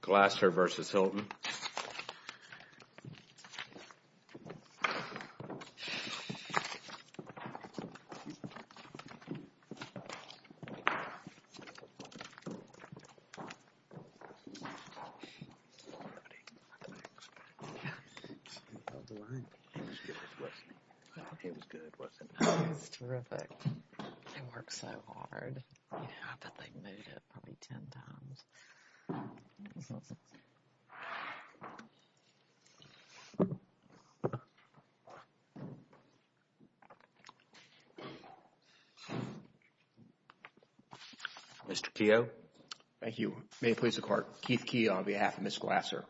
Glasser v. Hilton Mr. Keogh. Thank you. May it please the Court. Keith Keogh on behalf of Ms. Glasser.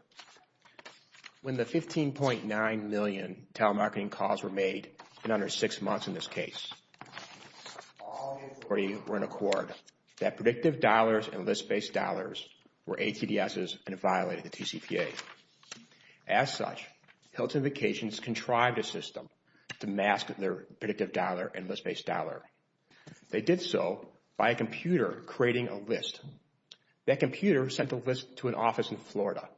When the $15.9 million telemarketing calls were made in under six months in this case, all that predictive dollars and list-based dollars were ATDSs and violated the TCPA. As such, Hilton Vacations contrived a system to mask their predictive dollar and list-based dollar. They did so by a computer creating a list. That computer sent the list to an office in Florida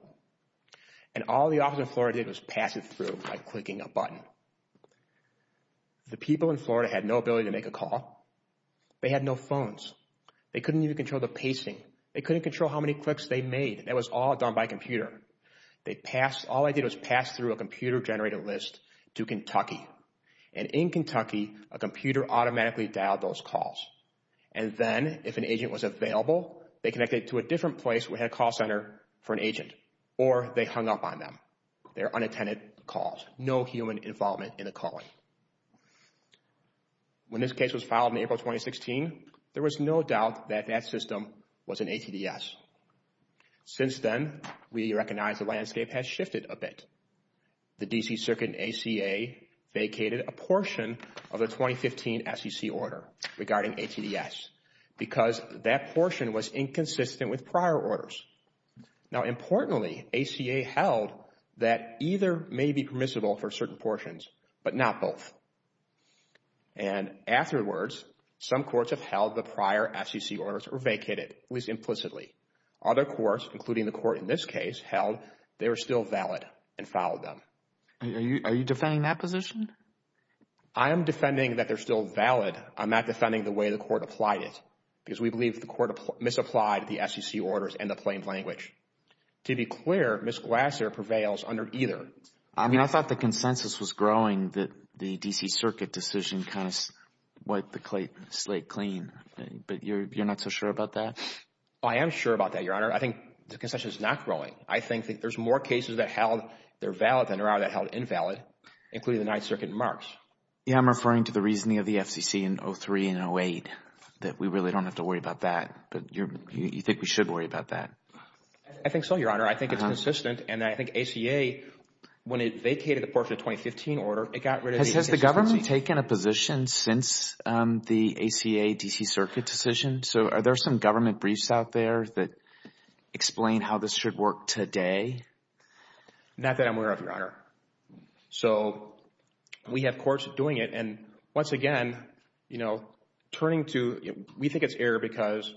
and all the office in Florida did was pass it through by clicking a button. The people in Florida had no ability to make a call. They had no phones. They couldn't even control the pacing. They couldn't control how many clicks they made. That was all done by computer. All they did was pass through a computer-generated list to Kentucky and in Kentucky, a computer automatically dialed those calls. And then if an agent was available, they connected to a different place. We had a call center for an agent or they hung up on them. They're unattended calls. No human involvement in the calling. When this case was filed in April 2016, there was no doubt that that system was an ATDS. Since then, we recognize the landscape has shifted a bit. The D.C. Circuit and ACA vacated a portion of the 2015 SEC order regarding ATDS because that portion was inconsistent with prior orders. Now importantly, ACA held that either may be permissible for certain portions but not both. And afterwards, some courts have held the prior SEC orders were vacated, at least implicitly. Other courts, including the court in this case, held they were still valid and followed them. Are you defending that position? I am defending that they're still valid. I'm not defending the way the court applied it because we believe the court misapplied the SEC orders in the plain language. To be clear, Ms. Glasser prevails under either. I mean, I thought the consensus was growing that the D.C. Circuit decision kind of wiped the slate clean. But you're not so sure about that? I am sure about that, Your Honor. I think the consensus is not growing. I think there's more cases that held they're valid than there are that held invalid, including the Ninth Circuit in March. Yeah, I'm referring to the reasoning of the FCC in 2003 and 2008, that we really don't have to worry about that. But you think we should worry about that? I think so, Your Honor. I think it's consistent. And I think ACA, when it vacated a portion of the 2015 order, it got rid of the SEC order. Has the government taken a position since the ACA D.C. Circuit decision? So are there some government briefs out there that explain how this should work today? Not that I'm aware of, Your Honor. So we have courts doing it. And once again, you know, turning to, we think it's error because...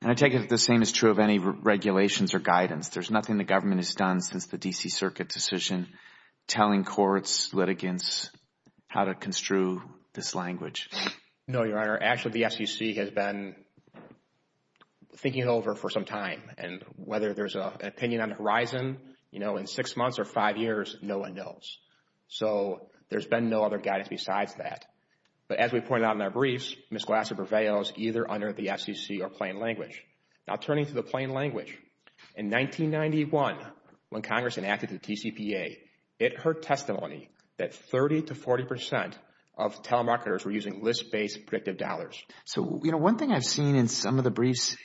And I take it the same is true of any regulations or guidance. There's nothing the government has done since the D.C. Circuit decision, telling courts, litigants, how to construe this language. No, Your Honor. Actually, the FCC has been thinking it over for some time. And whether there's an opinion on the horizon, you know, in six months or five years, no one knows. So there's been no other guidance besides that. But as we pointed out in our briefs, either under the FCC or plain language. Now, turning to the plain language, in 1991, when Congress enacted the TCPA, it heard testimony that 30 to 40 percent of telemarketers were using list-based predictive dollars. So you know, one thing I've seen in some of the briefs,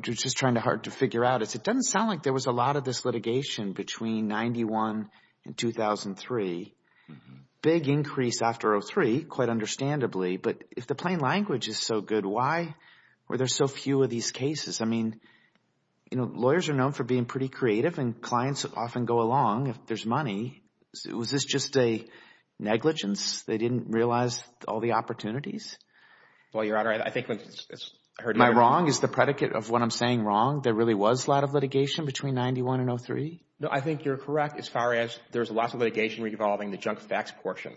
just trying to figure out, is it doesn't sound like there was a lot of this litigation between 91 and 2003. Big increase after 03, quite understandably. But if the plain language is so good, why were there so few of these cases? I mean, you know, lawyers are known for being pretty creative and clients often go along if there's money. Was this just a negligence? They didn't realize all the opportunities? Well, Your Honor, I think when it's heard... My wrong is the predicate of what I'm saying wrong. There really was a lot of litigation between 91 and 03? No, I think you're correct as far as there's a lot of litigation revolving the junk fax portion.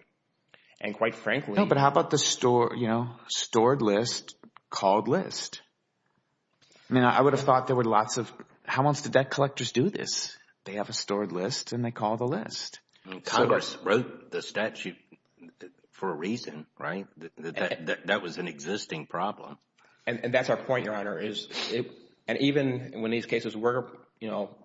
And quite frankly... No, but how about the store, you know, stored list, called list? I mean, I would have thought there were lots of... How else did debt collectors do this? They have a stored list and they call the list. I mean, Congress wrote the statute for a reason, right? That was an existing problem. And that's our point, Your Honor, is it... And even when these cases were, you know,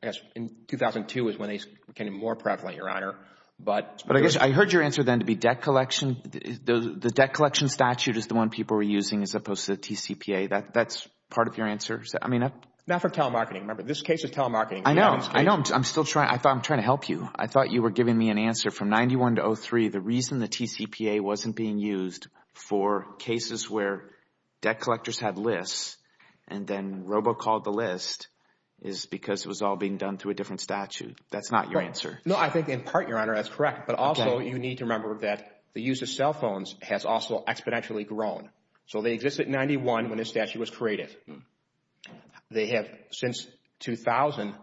I guess in 2002 is when they became more prevalent, Your Honor, but... But I guess I heard your answer then to be debt collection. The debt collection statute is the one people were using as opposed to the TCPA. That's part of your answer? I mean... Not for telemarketing. Remember, this case is telemarketing. I know. I know. I'm still trying... I thought I'm trying to help you. I thought you were giving me an answer from 91 to 03. The reason the TCPA wasn't being used for cases where debt collectors had lists and then robo-called the list is because it was all being done through a different statute. That's not your answer. No, I think in part, Your Honor, that's correct. But also you need to remember that the use of cell phones has also exponentially grown. So they existed in 91 when this statute was created. They have since 2000...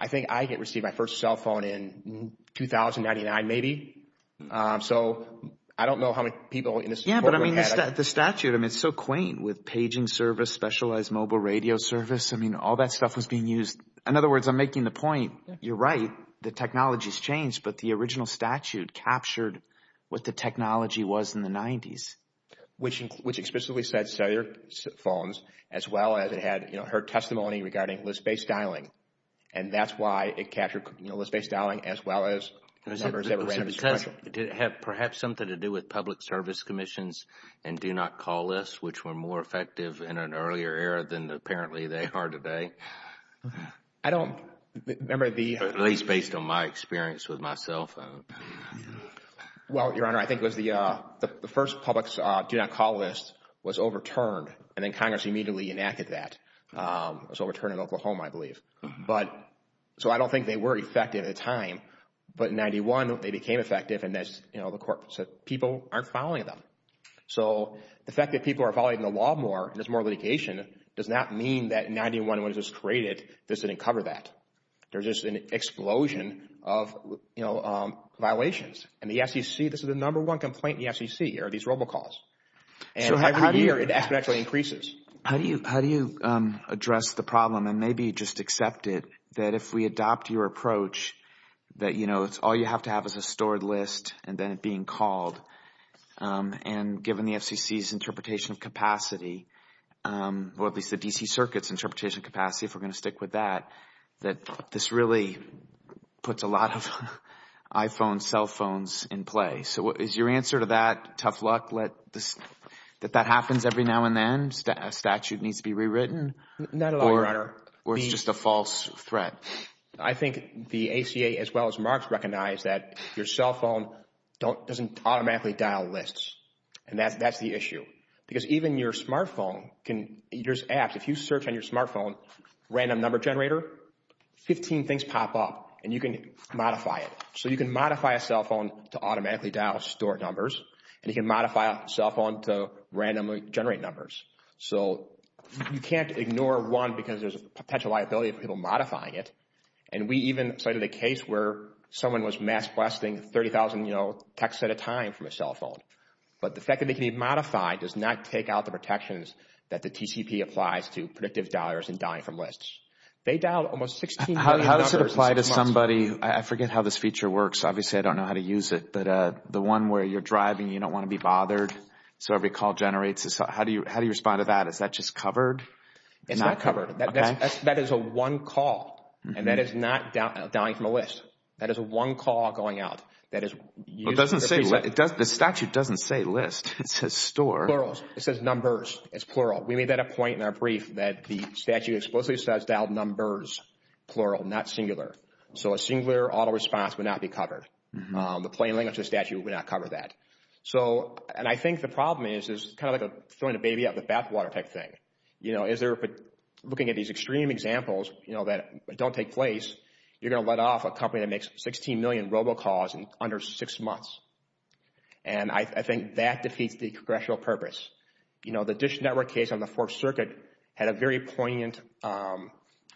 I think I get received my first cell phone in 2099 maybe. So I don't know how many people in this courtroom had... The statute, I mean, it's so quaint with paging service, specialized mobile radio service. I mean, all that stuff was being used. In other words, I'm making the point, you're right, the technology has changed, but the original statute captured what the technology was in the 90s. Which explicitly said cellular phones as well as it had, you know, her testimony regarding list-based dialing. And that's why it captured, you know, list-based dialing as well as... It had perhaps something to do with public service commissions and do-not-call lists, which were more effective in an earlier era than apparently they are today. I don't... Remember the... At least based on my experience with my cell phone. Well, Your Honor, I think it was the first public do-not-call list was overturned and then Congress immediately enacted that. It was overturned in Oklahoma, I believe. But... So I don't think they were effective at the time. But in 91, they became effective and that's, you know, the court said people aren't following them. So the fact that people are following the law more, there's more litigation, does not mean that in 91, when it was created, this didn't cover that. There's just an explosion of, you know, violations. And the FCC, this is the number one complaint in the FCC are these robocalls. And every year, it actually increases. How do you address the problem and maybe just accept it that if we adopt your approach that, you know, it's all you have to have is a stored list and then it being called. And given the FCC's interpretation of capacity, or at least the DC Circuit's interpretation of capacity, if we're going to stick with that, that this really puts a lot of iPhone cell phones in play. So is your answer to that tough luck, that that happens every now and then, a statute needs to be rewritten? Not at all, Your Honor. Or is it just a false threat? I think the ACA, as well as Marks, recognize that your cell phone doesn't automatically dial lists. And that's the issue. Because even your smartphone can, there's apps, if you search on your smartphone, random number generator, 15 things pop up and you can modify it. So you can modify a cell phone to automatically dial stored numbers, and you can modify a cell phone to randomly generate numbers. So you can't ignore one because there's a potential liability of people modifying it. And we even cited a case where someone was mass requesting 30,000, you know, texts at a time from a cell phone. But the fact that they can be modified does not take out the protections that the TCP applies to predictive dialers and dialing from lists. They dialed almost 16 million numbers. How does it apply to somebody, I forget how this feature works, obviously I don't know how to use it, but the one where you're driving, you don't want to be bothered, so every call generates, how do you respond to that? Is that just covered? It's not covered. That is a one call, and that is not dialing from a list. That is a one call going out. That is used for a piece of... It doesn't, the statute doesn't say list. It says store. Plurals. It says numbers. It's plural. We made that a point in our brief that the statute explicitly says dialed numbers, plural, not singular. So a singular auto response would not be covered. The plain language of the statute would not cover that. So, and I think the problem is, is kind of like throwing a baby out of the bathwater type thing. You know, is there, looking at these extreme examples, you know, that don't take place, you're going to let off a company that makes 16 million robocalls in under six months. And I think that defeats the congressional purpose. You know, the Dish Network case on the Fourth Circuit had a very poignant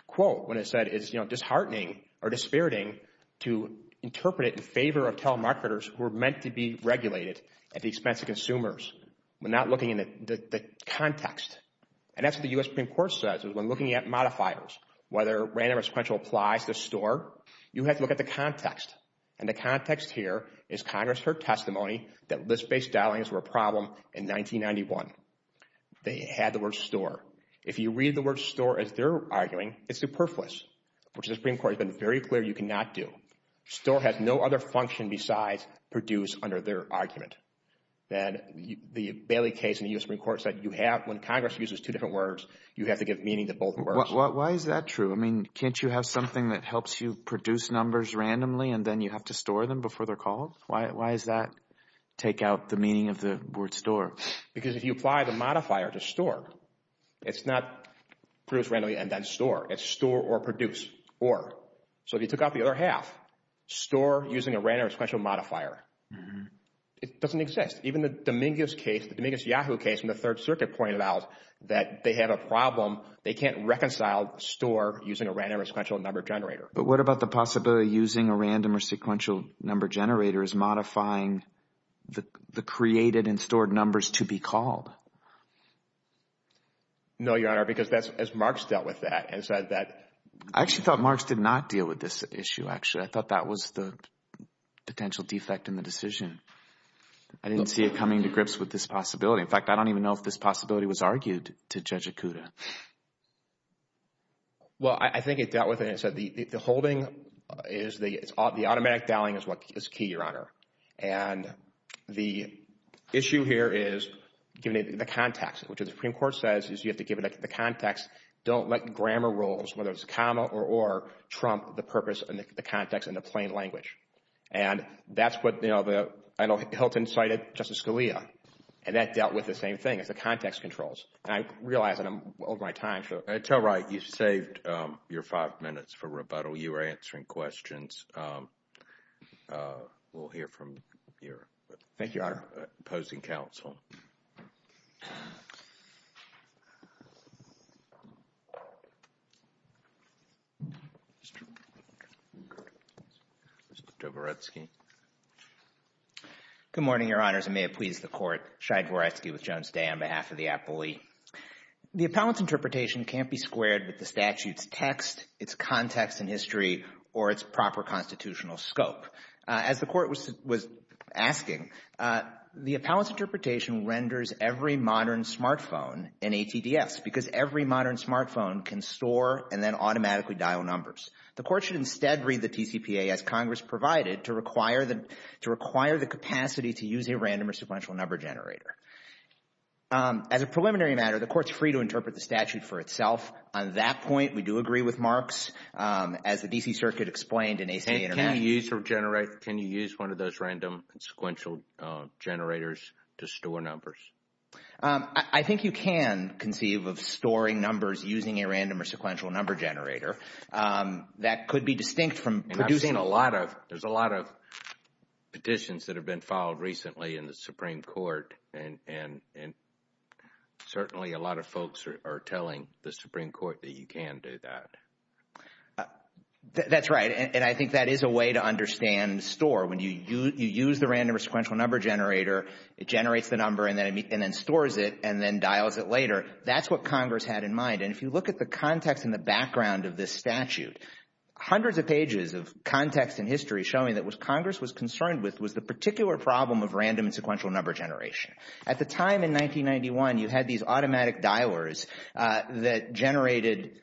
quote when it said, it's, you know, disheartening or dispiriting to interpret it in favor of telemarketers who are meant to be regulated at the expense of consumers. We're not looking at the context. And that's what the U.S. Supreme Court says is when looking at modifiers, whether random or sequential applies to store, you have to look at the context. And the context here is Congress' testimony that list-based dialings were a problem in 1991. They had the word store. If you read the word store as they're arguing, it's superfluous, which the Supreme Court has been very clear you cannot do. Store has no other function besides produce under their argument. And the Bailey case in the U.S. Supreme Court said you have, when Congress uses two different words, you have to give meaning to both words. Why is that true? I mean, can't you have something that helps you produce numbers randomly and then you have to store them before they're called? Why does that take out the meaning of the word store? Because if you apply the modifier to store, it's not produce randomly and then store. It's store or produce, or. So if you took out the other half, store using a random or sequential modifier, it doesn't exist. Even the Dominguez case, the Dominguez-Yahoo case in the Third Circuit pointed out that they have a problem. They can't reconcile store using a random or sequential number generator. But what about the possibility of using a random or sequential number generator as modifying the created and stored numbers to be called? No, Your Honor, because that's as Marx dealt with that and said that. I actually thought Marx did not deal with this issue, actually. I thought that was the potential defect in the decision. I didn't see it coming to grips with this possibility. In fact, I don't even know if this possibility was argued to Judge Okuda. Well, I think it dealt with it and said the holding is the automatic dialing is what is key, Your Honor. And the issue here is given the context, which the Supreme Court gave it the context, don't let grammar rules, whether it's a comma or or, trump the purpose and the context in the plain language. And that's what, you know, Hilton cited Justice Scalia and that dealt with the same thing as the context controls. And I realize that I'm over my time, so. Until right, you saved your five minutes for rebuttal. You were answering questions. We'll hear from your opposing counsel. Mr. Dvoretsky. Good morning, Your Honors, and may it please the Court. Shai Dvoretsky with Jones Day on behalf of the appellee. The appellant's interpretation can't be squared with the statute's text, its context and history, or its proper constitutional scope. As the Court was asking, the appellant's interpretation renders every modern smartphone an ATDS because every modern smartphone can store and then automatically dial numbers. The Court should instead read the TCPA, as Congress provided, to require the to require the capacity to use a random or sequential number generator. As a preliminary matter, the Court's free to interpret the statute for itself. On that point, we do agree with Mark's, as the D.C. Circuit explained in ACA Intervention. Can you use one of those random and sequential generators to store numbers? I think you can conceive of storing numbers using a random or sequential number generator. That could be distinct from producing a lot of... There's a lot of petitions that have been filed recently in the Supreme Court, and certainly a lot of folks are telling the Supreme Court that you can do that. That's right, and I think that is a way to understand store. When you use the random or sequential number generator, it generates the number and then stores it and then dials it later. That's what Congress had in mind. And if you look at the context and the background of this statute, hundreds of pages of context and history showing that what Congress was concerned with was the particular problem of random and sequential number generation. At the time in 1991, you had these automatic dialers that generated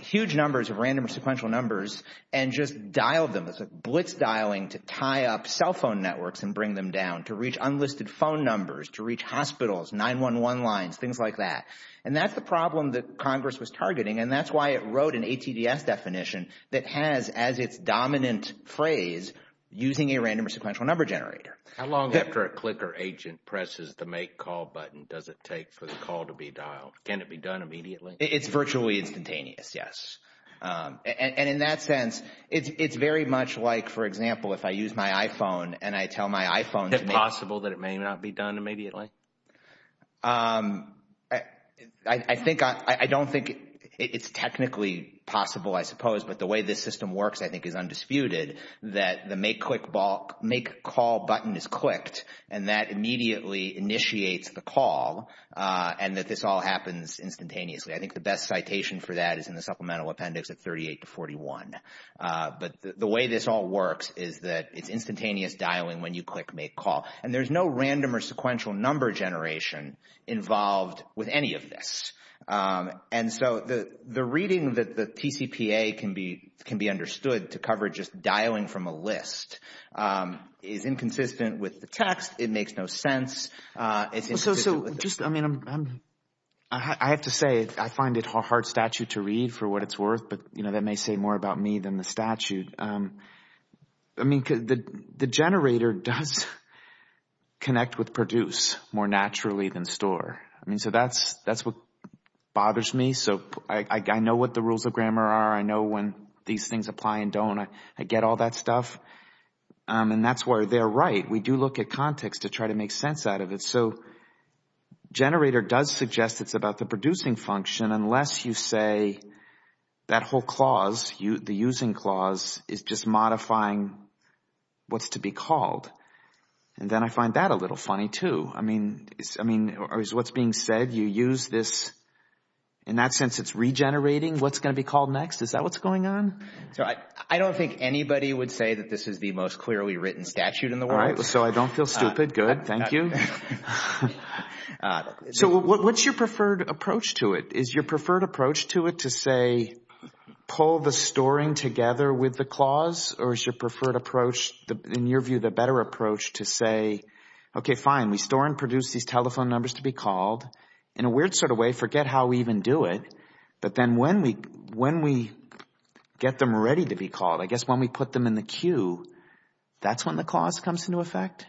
huge numbers of random or sequential numbers and just dialed them. It's like blitz dialing to tie up cell phone networks and bring them down, to reach unlisted phone numbers, to reach hospitals, 911 lines, things like that. And that's the problem that Congress was targeting, and that's why it wrote an ATDS definition that has as its dominant phrase, using a random or sequential number generator. How long after a clicker agent presses the make call button does it take for the call to be dialed? Can it be done immediately? It's virtually instantaneous, yes. And in that sense, it's very much like, for example, if I use my iPhone and I tell my iPhone to make... Is it possible that it may not be done immediately? I think, I don't think it's technically possible, I suppose, but the way this system works, I think is undisputed, that the make call button is clicked and that immediately initiates the call and that this all happens instantaneously. I think the best citation for that is in the Supplemental Appendix at 38 to 41. But the way this all works is that it's instantaneous dialing when you click make call. And there's no random or sequential number generation involved with any of this. And so the reading that the TCPA can be understood to cover just dialing from a list is inconsistent with the text. It makes no sense. So just, I mean, I have to say, I find it a hard statute to read for what it's worth, but that may say more about me than the statute. I mean, the generator does connect with produce more naturally than store. I mean, so that's what bothers me. So I know what the rules of grammar are. I know when these things apply and don't. I get all that stuff. And that's why they're right. We do look at context to try to make sense out of it. So generator does suggest it's about the producing function, unless you say that whole clause, the using clause, is just modifying what's to be called. And then I find that a little funny, too. I mean, I mean, what's being said, you use this. In that sense, it's regenerating what's going to be called next. Is that what's going on? So I don't think anybody would say that this is the most clearly written statute in the world. So I don't feel stupid. Good. Thank you. So what's your preferred approach to it? Is your preferred approach to it to say, pull the storing together with the clause? Or is your preferred approach, in your view, the fine. We store and produce these telephone numbers to be called. In a weird sort of way, forget how we even do it. But then when we get them ready to be called, I guess when we put them in the queue, that's when the clause comes into effect?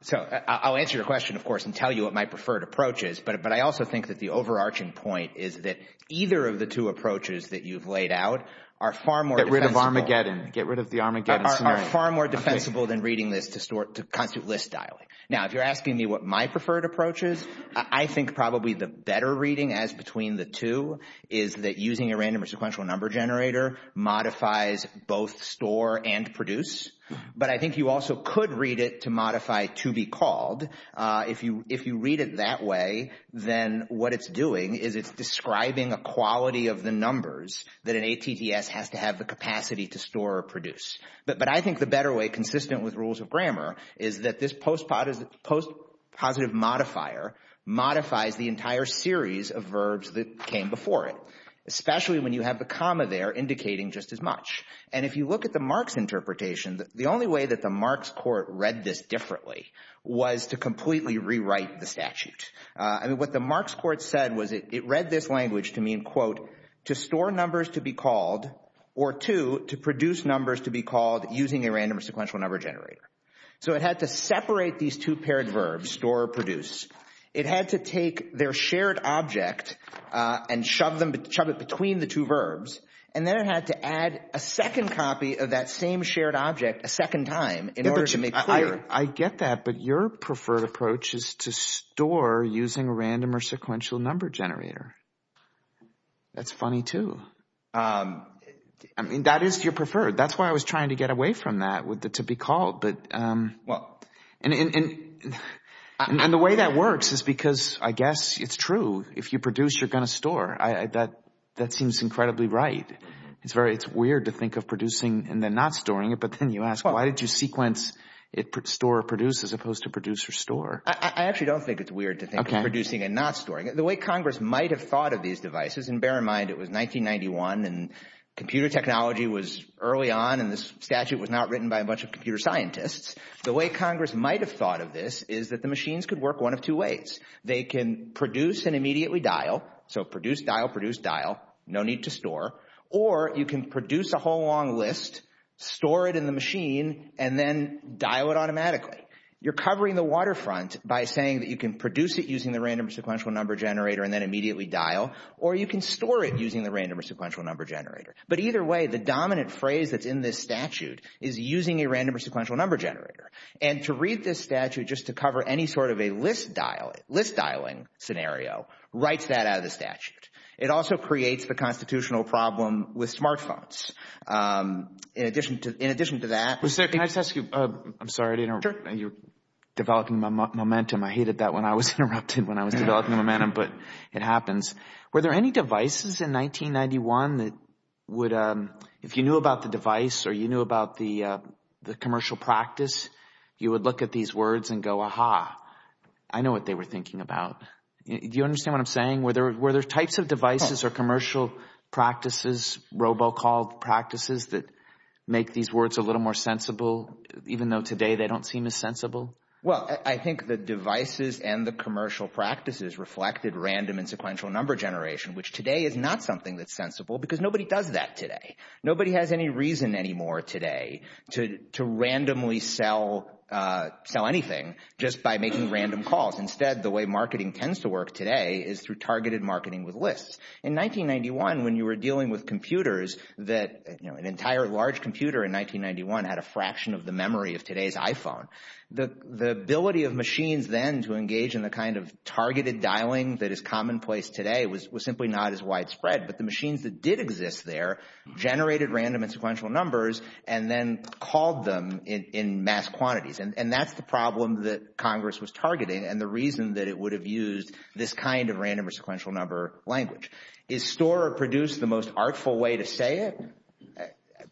So I'll answer your question, of course, and tell you what my preferred approach is. But I also think that the overarching point is that either of the two approaches that you've laid out are far more defensible. Get rid of Armageddon. Get rid of the Armageddon scenario. Are far more defensible than reading this to constitute list dialing. Now, if you're asking me what my preferred approach is, I think probably the better reading as between the two is that using a random or sequential number generator modifies both store and produce. But I think you also could read it to modify to be called. If you read it that way, then what it's doing is it's describing a quality of the numbers that an ATTS has to have the capacity to store or produce. But I think the better way, consistent with rules of grammar, is that this post positive modifier modifies the entire series of verbs that came before it, especially when you have the comma there indicating just as much. And if you look at the Marx interpretation, the only way that the Marx court read this differently was to completely rewrite the statute. I mean, what the Marx court said was it read this language to mean, quote, to store numbers to be called, or two, to produce numbers to be called using a random or sequential number generator. So it had to separate these two paired verbs, store or produce. It had to take their shared object and shove it between the two verbs. And then it had to add a second copy of that same shared object a second time in order to make clear. I get that. But your preferred approach is to store using a random or sequential number generator. That's funny, too. I mean, that is your preferred. That's why I was trying to get away from that to be called. And the way that works is because I guess it's true. If you produce, you're going to store. That seems incredibly right. It's weird to think of producing and then not storing it. But then you ask, why did you sequence store or produce as opposed to produce or store? I actually don't think it's weird to think of producing and not storing. The way Congress might have thought of these devices, and bear in mind it was 1991 and computer technology was early on and this statute was not written by a bunch of computer scientists. The way Congress might have thought of this is that the machines could work one of two ways. They can produce and immediately dial. So produce, dial, produce, dial. No need to store. Or you can produce a whole long list, store it in the machine, and then dial it automatically. You're covering the waterfront by saying that you can produce it using the random or sequential number generator and then immediately dial. Or you can store it using the random or sequential number generator. But either way, the dominant phrase that's in this statute is using a random or sequential number generator. And to read this statute just to cover any sort of a list dial, list dialing scenario, writes that out of the statute. It also creates the constitutional problem with smartphones. In addition to that— Mr. Sarek, can I just ask you—I'm sorry to interrupt. You're developing my momentum. I hated that when I was interrupted when I was developing the momentum, but it happens. Were there any devices in 1991 that would—if you knew about the device or you knew about the commercial practice, you would look at these words and go, aha, I know what they were thinking about. Do you understand what I'm saying? Were there types of devices or commercial practices, robocall practices that make these words a little more sensible, even though today they don't seem as sensible? Well, I think the devices and the commercial practices reflected random and sequential number generation, which today is not something that's sensible because nobody does that today. Nobody has any reason anymore today to randomly sell anything just by making random calls. Instead, the way marketing tends to work today is through targeted marketing with lists. In 1991, when you were dealing with computers that—an entire large computer in 1991 had a fraction of the memory of today's iPhone. The ability of machines then to engage in the kind of targeted dialing that is commonplace today was simply not as widespread, but the machines that did exist there generated random and sequential numbers and then called them in mass quantities, and that's the problem that Congress was targeting and the reason that it would have used this kind of random or sequential number language. Is store or produce the most artful way to say it?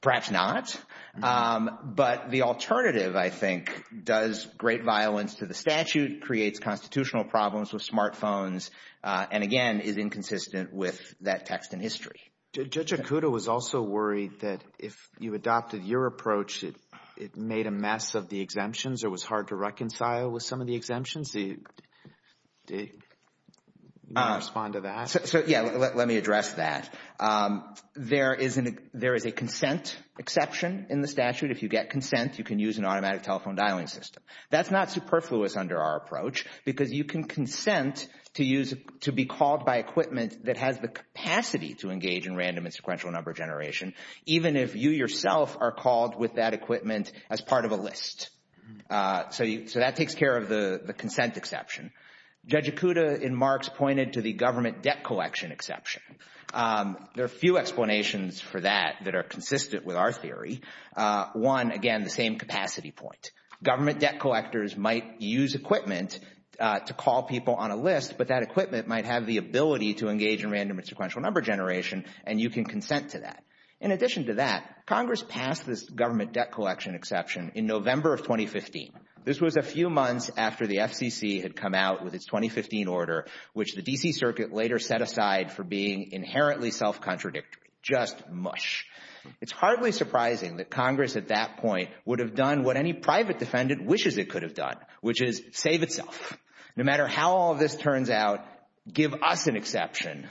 Perhaps not, but the alternative, I think, does great violence to the statute, creates constitutional problems with smartphones, and again, is inconsistent with that text in history. Judge Okuda was also worried that if you adopted your approach, it made a mess of the exemptions or was hard to reconcile with some of the exemptions. Do you want to respond to that? Yeah, let me address that. There is a consent exception in the statute. If you get consent, you can use an automatic telephone dialing system. That's not superfluous under our approach because you can consent to be called by equipment that has the capacity to engage in random and sequential number generation, even if you yourself are called with that equipment as part of a list. So that takes care of the consent exception. Judge Okuda in Marx pointed to the government debt collection exception. There are a few explanations for that that are consistent with our theory. One, again, the same capacity point. Government debt collectors might use equipment to call people on a list, but that equipment might have the ability to engage in random and sequential number generation, and you can consent to that. In addition to that, Congress passed this government debt collection exception in November of 2015. This was a few months after the FCC had come out with its 2015 order, which the D.C. Circuit later set aside for being inherently self-contradictory, just mush. It's hardly surprising that Congress at that point would have done what any private defendant wishes it could have done, which is save itself. No matter how all this turns out, give us an exception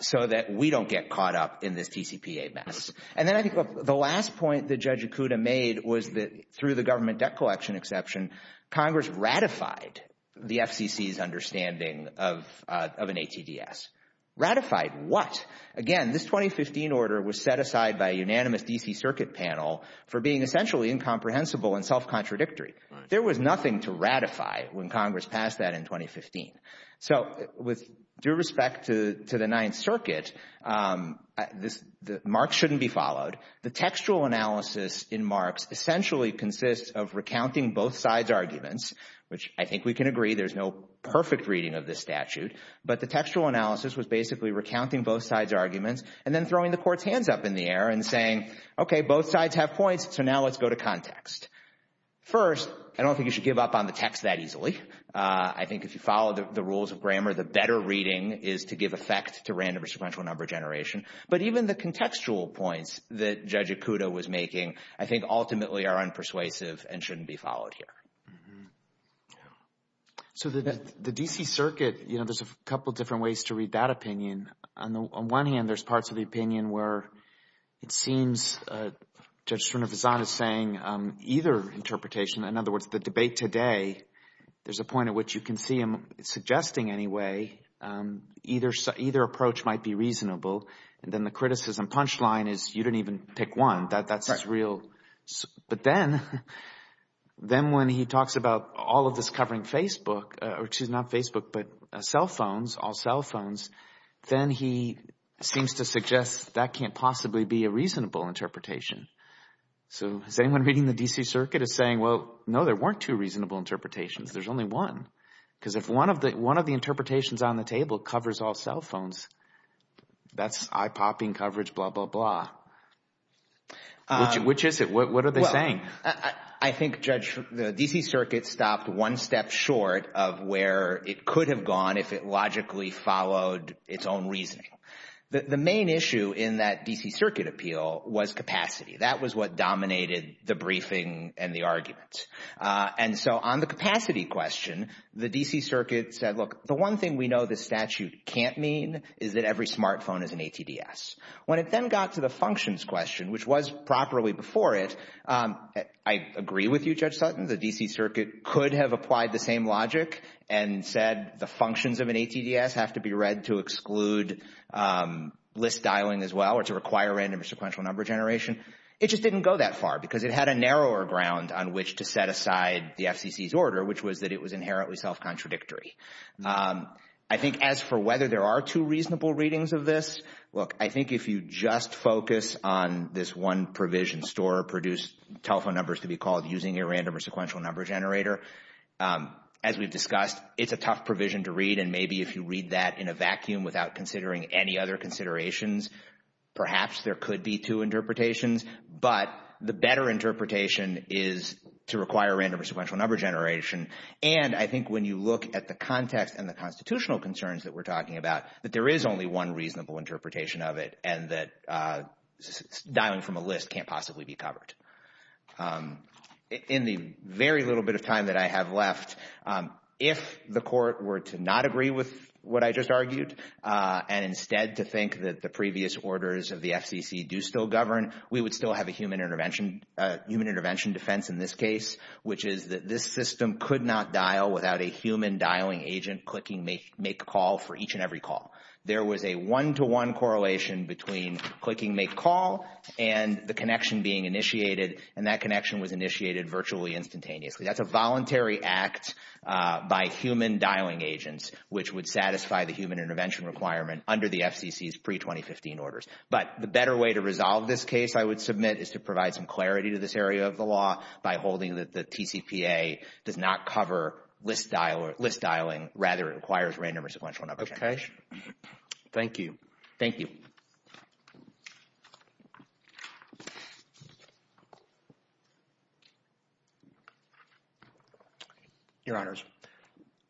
so that we don't get caught up in this TCPA mess. And then I think the last point that Judge Okuda made was that through the government debt collection exception, Congress ratified the FCC's understanding of an ATDS. Ratified what? Again, this 2015 order was set aside by a unanimous D.C. Circuit panel for being essentially incomprehensible and self-contradictory. There was nothing to ratify when Congress passed that in 2015. So with due respect to the Ninth Circuit, marks shouldn't be followed. The textual analysis in marks essentially consists of recounting both sides' arguments, which I think we can agree there's no perfect reading of this statute, but the textual analysis was basically recounting both sides' arguments and then throwing the court's hands up in the air and saying, okay, both sides have points, so now let's go to context. First, I don't think you should give up on the text that easily. I think if you follow the rules of grammar, the better reading is to give effect to random or sequential number generation. But even the contextual points that Judge Okuda was making I think ultimately are unpersuasive and shouldn't be followed here. So the D.C. Circuit, you know, there's a couple different ways to read that opinion. On one hand, there's parts of the opinion where it seems Judge Srinivasan is saying either interpretation, in other words, the debate today, there's a point at which you can see him suggesting anyway either approach might be reasonable, and then the criticism punchline is you didn't even pick one, that's his real. But then when he talks about all of this covering Facebook, or excuse me, not Facebook, but cell phones, all cell phones, then he seems to suggest that can't possibly be a reasonable interpretation. So is anyone reading the D.C. Circuit is saying, well, no, there weren't two reasonable interpretations. There's only one, because if one of the one of the interpretations on the table covers all cell phones, that's eye popping coverage, blah, blah, blah. Which is it? What are they saying? I think, Judge, the D.C. Circuit stopped one step short of where it could have gone if it logically followed its own reasoning. The main issue in that D.C. Circuit appeal was capacity. That was what dominated the briefing and the argument. And so on the capacity question, the D.C. Circuit said, look, the one thing we know the statute can't mean is that every smartphone is an ATDS. When it then got to the functions question, which was properly before it, I agree with you, Judge Sutton, the D.C. Circuit could have applied the same logic and said the functions of an ATDS have to be used, list dialing as well, or to require random or sequential number generation. It just didn't go that far because it had a narrower ground on which to set aside the FCC's order, which was that it was inherently self-contradictory. I think as for whether there are two reasonable readings of this, look, I think if you just focus on this one provision, store or produce telephone numbers to be called using a random or sequential number generator, as we've discussed, it's a tough provision to bring any other considerations. Perhaps there could be two interpretations, but the better interpretation is to require random or sequential number generation. And I think when you look at the context and the constitutional concerns that we're talking about, that there is only one reasonable interpretation of it and that dialing from a list can't possibly be covered. In the very little bit of time that I have left, if the court were to not agree with what I just argued and instead to think that the previous orders of the FCC do still govern, we would still have a human intervention defense in this case, which is that this system could not dial without a human dialing agent clicking make call for each and every call. There was a one to one correlation between clicking make call and the connection being initiated and that connection was initiated virtually instantaneously. That's a voluntary act by human dialing agents which would satisfy the human intervention requirement under the FCC's pre-2015 orders. But the better way to resolve this case, I would submit, is to provide some clarity to this area of the law by holding that the TCPA does not cover list dialing, rather it requires random or sequential number generation. Thank you. Thank you. Your Honors,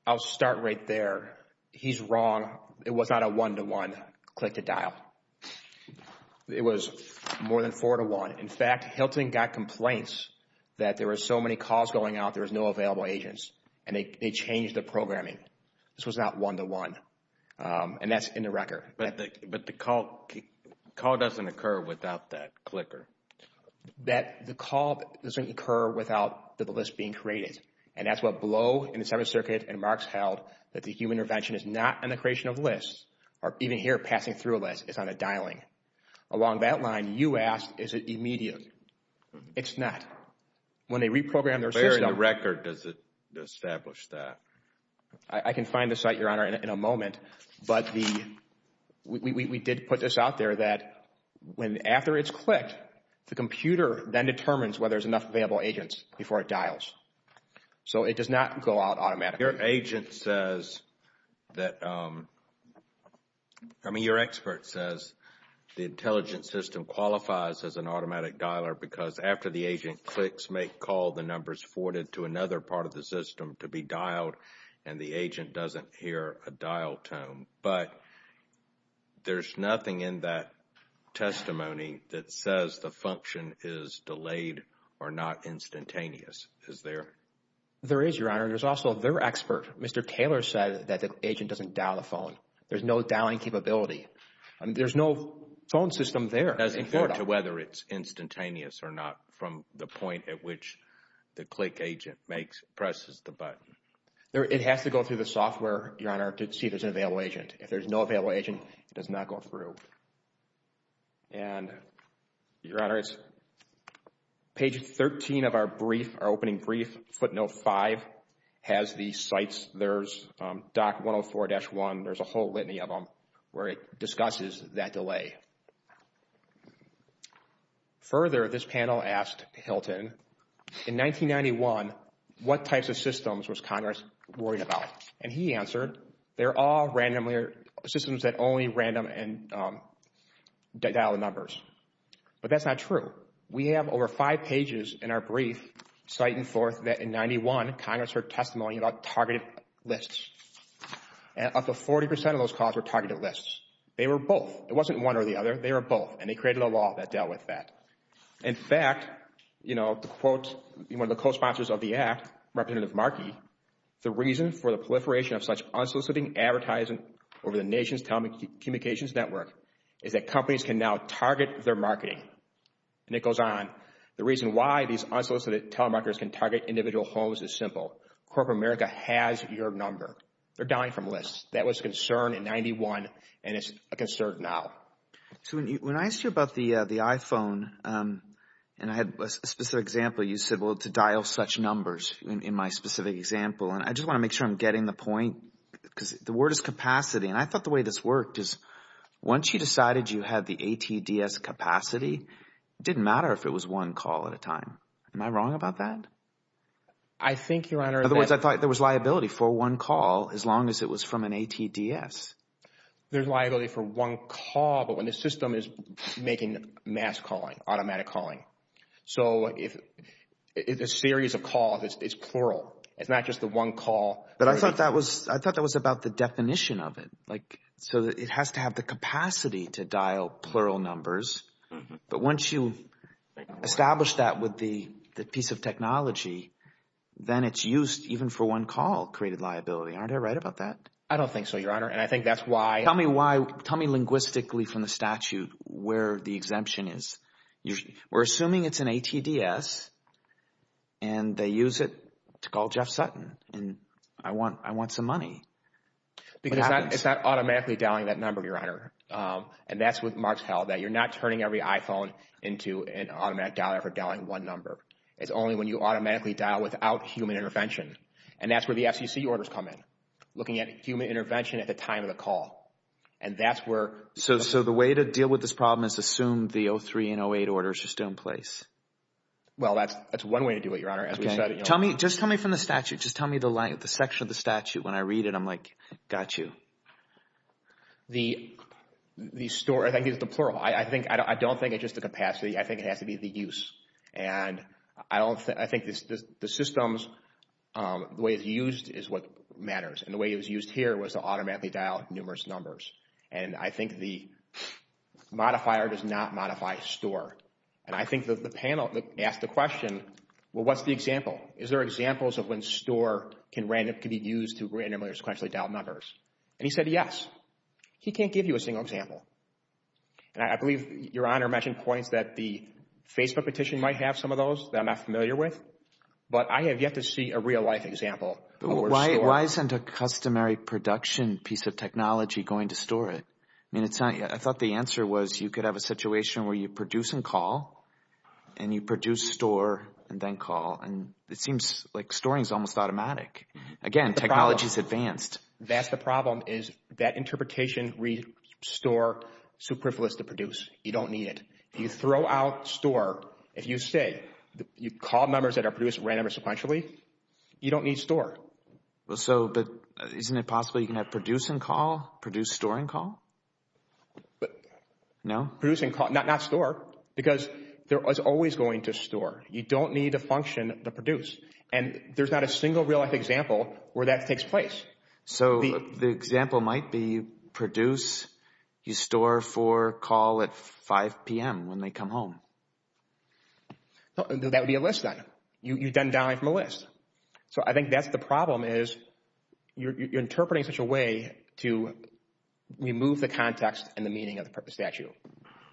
I'll start right there. He's wrong. It was not a one to one click to dial. It was more than four to one. In fact, Hilton got complaints that there were so many calls going out, there was no available agents and they changed the programming. This was not one to one and that's in the record. But the call doesn't occur without that clicker. That the call doesn't occur without the list being created. And that's what Blow and the Seventh Circuit and Marks held, that the human intervention is not in the creation of lists or even here passing through a list, it's on a dialing. Along that line, you asked, is it immediate? It's not. When they reprogrammed their system... Where in the record does it establish that? I can find the site, Your Honor, in a moment. But we did put this out there that when after it's clicked, the computer then determines whether there's enough available agents before it dials. So it does not go out automatically. Your agent says that, I mean, your expert says the intelligence system qualifies as an automatic dialer because after the agent clicks, may call the numbers forwarded to another part of the system to be dialed and the agent doesn't hear a dial tone. But there's nothing in that testimony that says the function is delayed or not instantaneous. Is there? There is, Your Honor. There's also their expert, Mr. Taylor, said that the agent doesn't dial the phone. There's no dialing capability and there's no phone system there. Does it go to whether it's instantaneous or not from the point at which the click agent presses the button? It has to go through the software, Your Honor, to see if there's an available agent. If there's no available agent, it does not go through. And, Your Honor, it's page 13 of our brief, our opening brief, footnote five, has the sites, there's DOC 104-1, there's a whole litany of them where it discusses that delay. Further, this panel asked Hilton, in 1991, what types of systems was Congress worried about? And he answered, they're all systems that only random and dial the numbers. But that's not true. We have over five pages in our brief citing forth that in 91, Congress heard testimony about targeted lists. And up to 40% of those calls were targeted lists. They were both. It wasn't one or the other. They were both. And they created a law that dealt with that. In fact, you know, the quote, one of the co-sponsors of the act, Representative Markey, the reason for the proliferation of such unsoliciting advertising over the nation's telecommunications network is that companies can now target their marketing. And it goes on, the reason why these unsolicited telemarketers can target individual homes is simple. Corporate America has your number. They're dying from lists. That was a concern in 91. And it's a concern now. So when I asked you about the iPhone, and I had a specific example, you said, well, to dial such numbers in my specific example. And I just want to make sure I'm getting the point because the word is capacity. And I thought the way this worked is once you decided you had the ATDS capacity, it didn't matter if it was one call at a time. Am I wrong about that? I think, Your Honor. Otherwise, I thought there was liability for one call as long as it was from an ATDS. There's liability for one call, but when the system is making mass calling, automatic calling. So if it's a series of calls, it's plural. It's not just the one call. But I thought that was I thought that was about the definition of it. Like, so it has to have the capacity to dial plural numbers. But once you establish that with the piece of technology, then it's used even for one call created liability. Aren't I right about that? I don't think so, Your Honor. And I think that's why. Tell me why. Tell me linguistically from the statute where the exemption is. We're assuming it's an ATDS, and they use it to call Jeff Sutton. Because it's not automatically dialing that number, Your Honor. And that's what Mark's held, that you're not turning every iPhone into an automatic dialer for dialing one number. It's only when you automatically dial without human intervention. And that's where the FCC orders come in. Looking at human intervention at the time of the call. And that's where. So the way to deal with this problem is assume the 03 and 08 order is just in place. Well, that's one way to do it, Your Honor. Just tell me from the statute. Just tell me the section of the statute. When I read it, I'm like, got you. The store, I think it's the plural. I think, I don't think it's just the capacity. I think it has to be the use. And I don't think, I think the systems, the way it's used is what matters. And the way it was used here was to automatically dial numerous numbers. And I think the modifier does not modify store. And I think that the panel asked the question, well, what's the example? Is there examples of when store can be used to randomly or sequentially dial numbers? And he said, yes. He can't give you a single example. And I believe Your Honor mentioned points that the Facebook petition might have some of those that I'm not familiar with. But I have yet to see a real-life example. Why isn't a customary production piece of technology going to store it? I mean, it's not. I thought the answer was you could have a situation where you produce and call. And you produce, store, and then call. And it seems like storing is almost automatic. Again, technology is advanced. That's the problem, is that interpretation, restore, superfluous to produce. You don't need it. You throw out store. If you say, you call numbers that are produced randomly or sequentially, you don't need store. Well, so, but isn't it possible you can have produce and call? Produce, store, and call? No. Produce and call, not store. Because they're always going to store. You don't need a function to produce. And there's not a single real-life example where that takes place. So the example might be produce, you store for call at 5 p.m. when they come home. That would be a list then. You're done dialing from a list. So I think that's the problem, is you're interpreting such a way to remove the context and the meaning of the statute.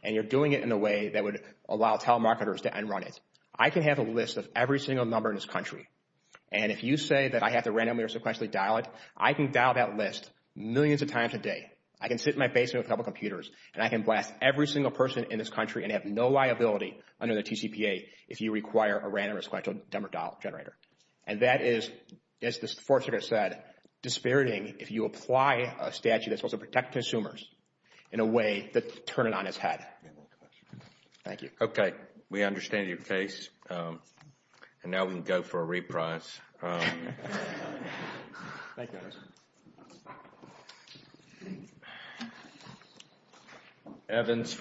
And you're doing it in a way that would allow telemarketers to end run it. I can have a list of every single number in this country. And if you say that I have to randomly or sequentially dial it, I can dial that list millions of times a day. I can sit in my basement with a couple computers, and I can blast every single person in this country and have no liability under the TCPA if you require a random or sequentially dial generator. And that is, as the Fourth Circuit said, dispiriting if you apply a statute that's supposed to protect consumers in a way that turn it on its head. Thank you. Okay. We understand your case. And now we can go for a reprise. Thank you. Evans.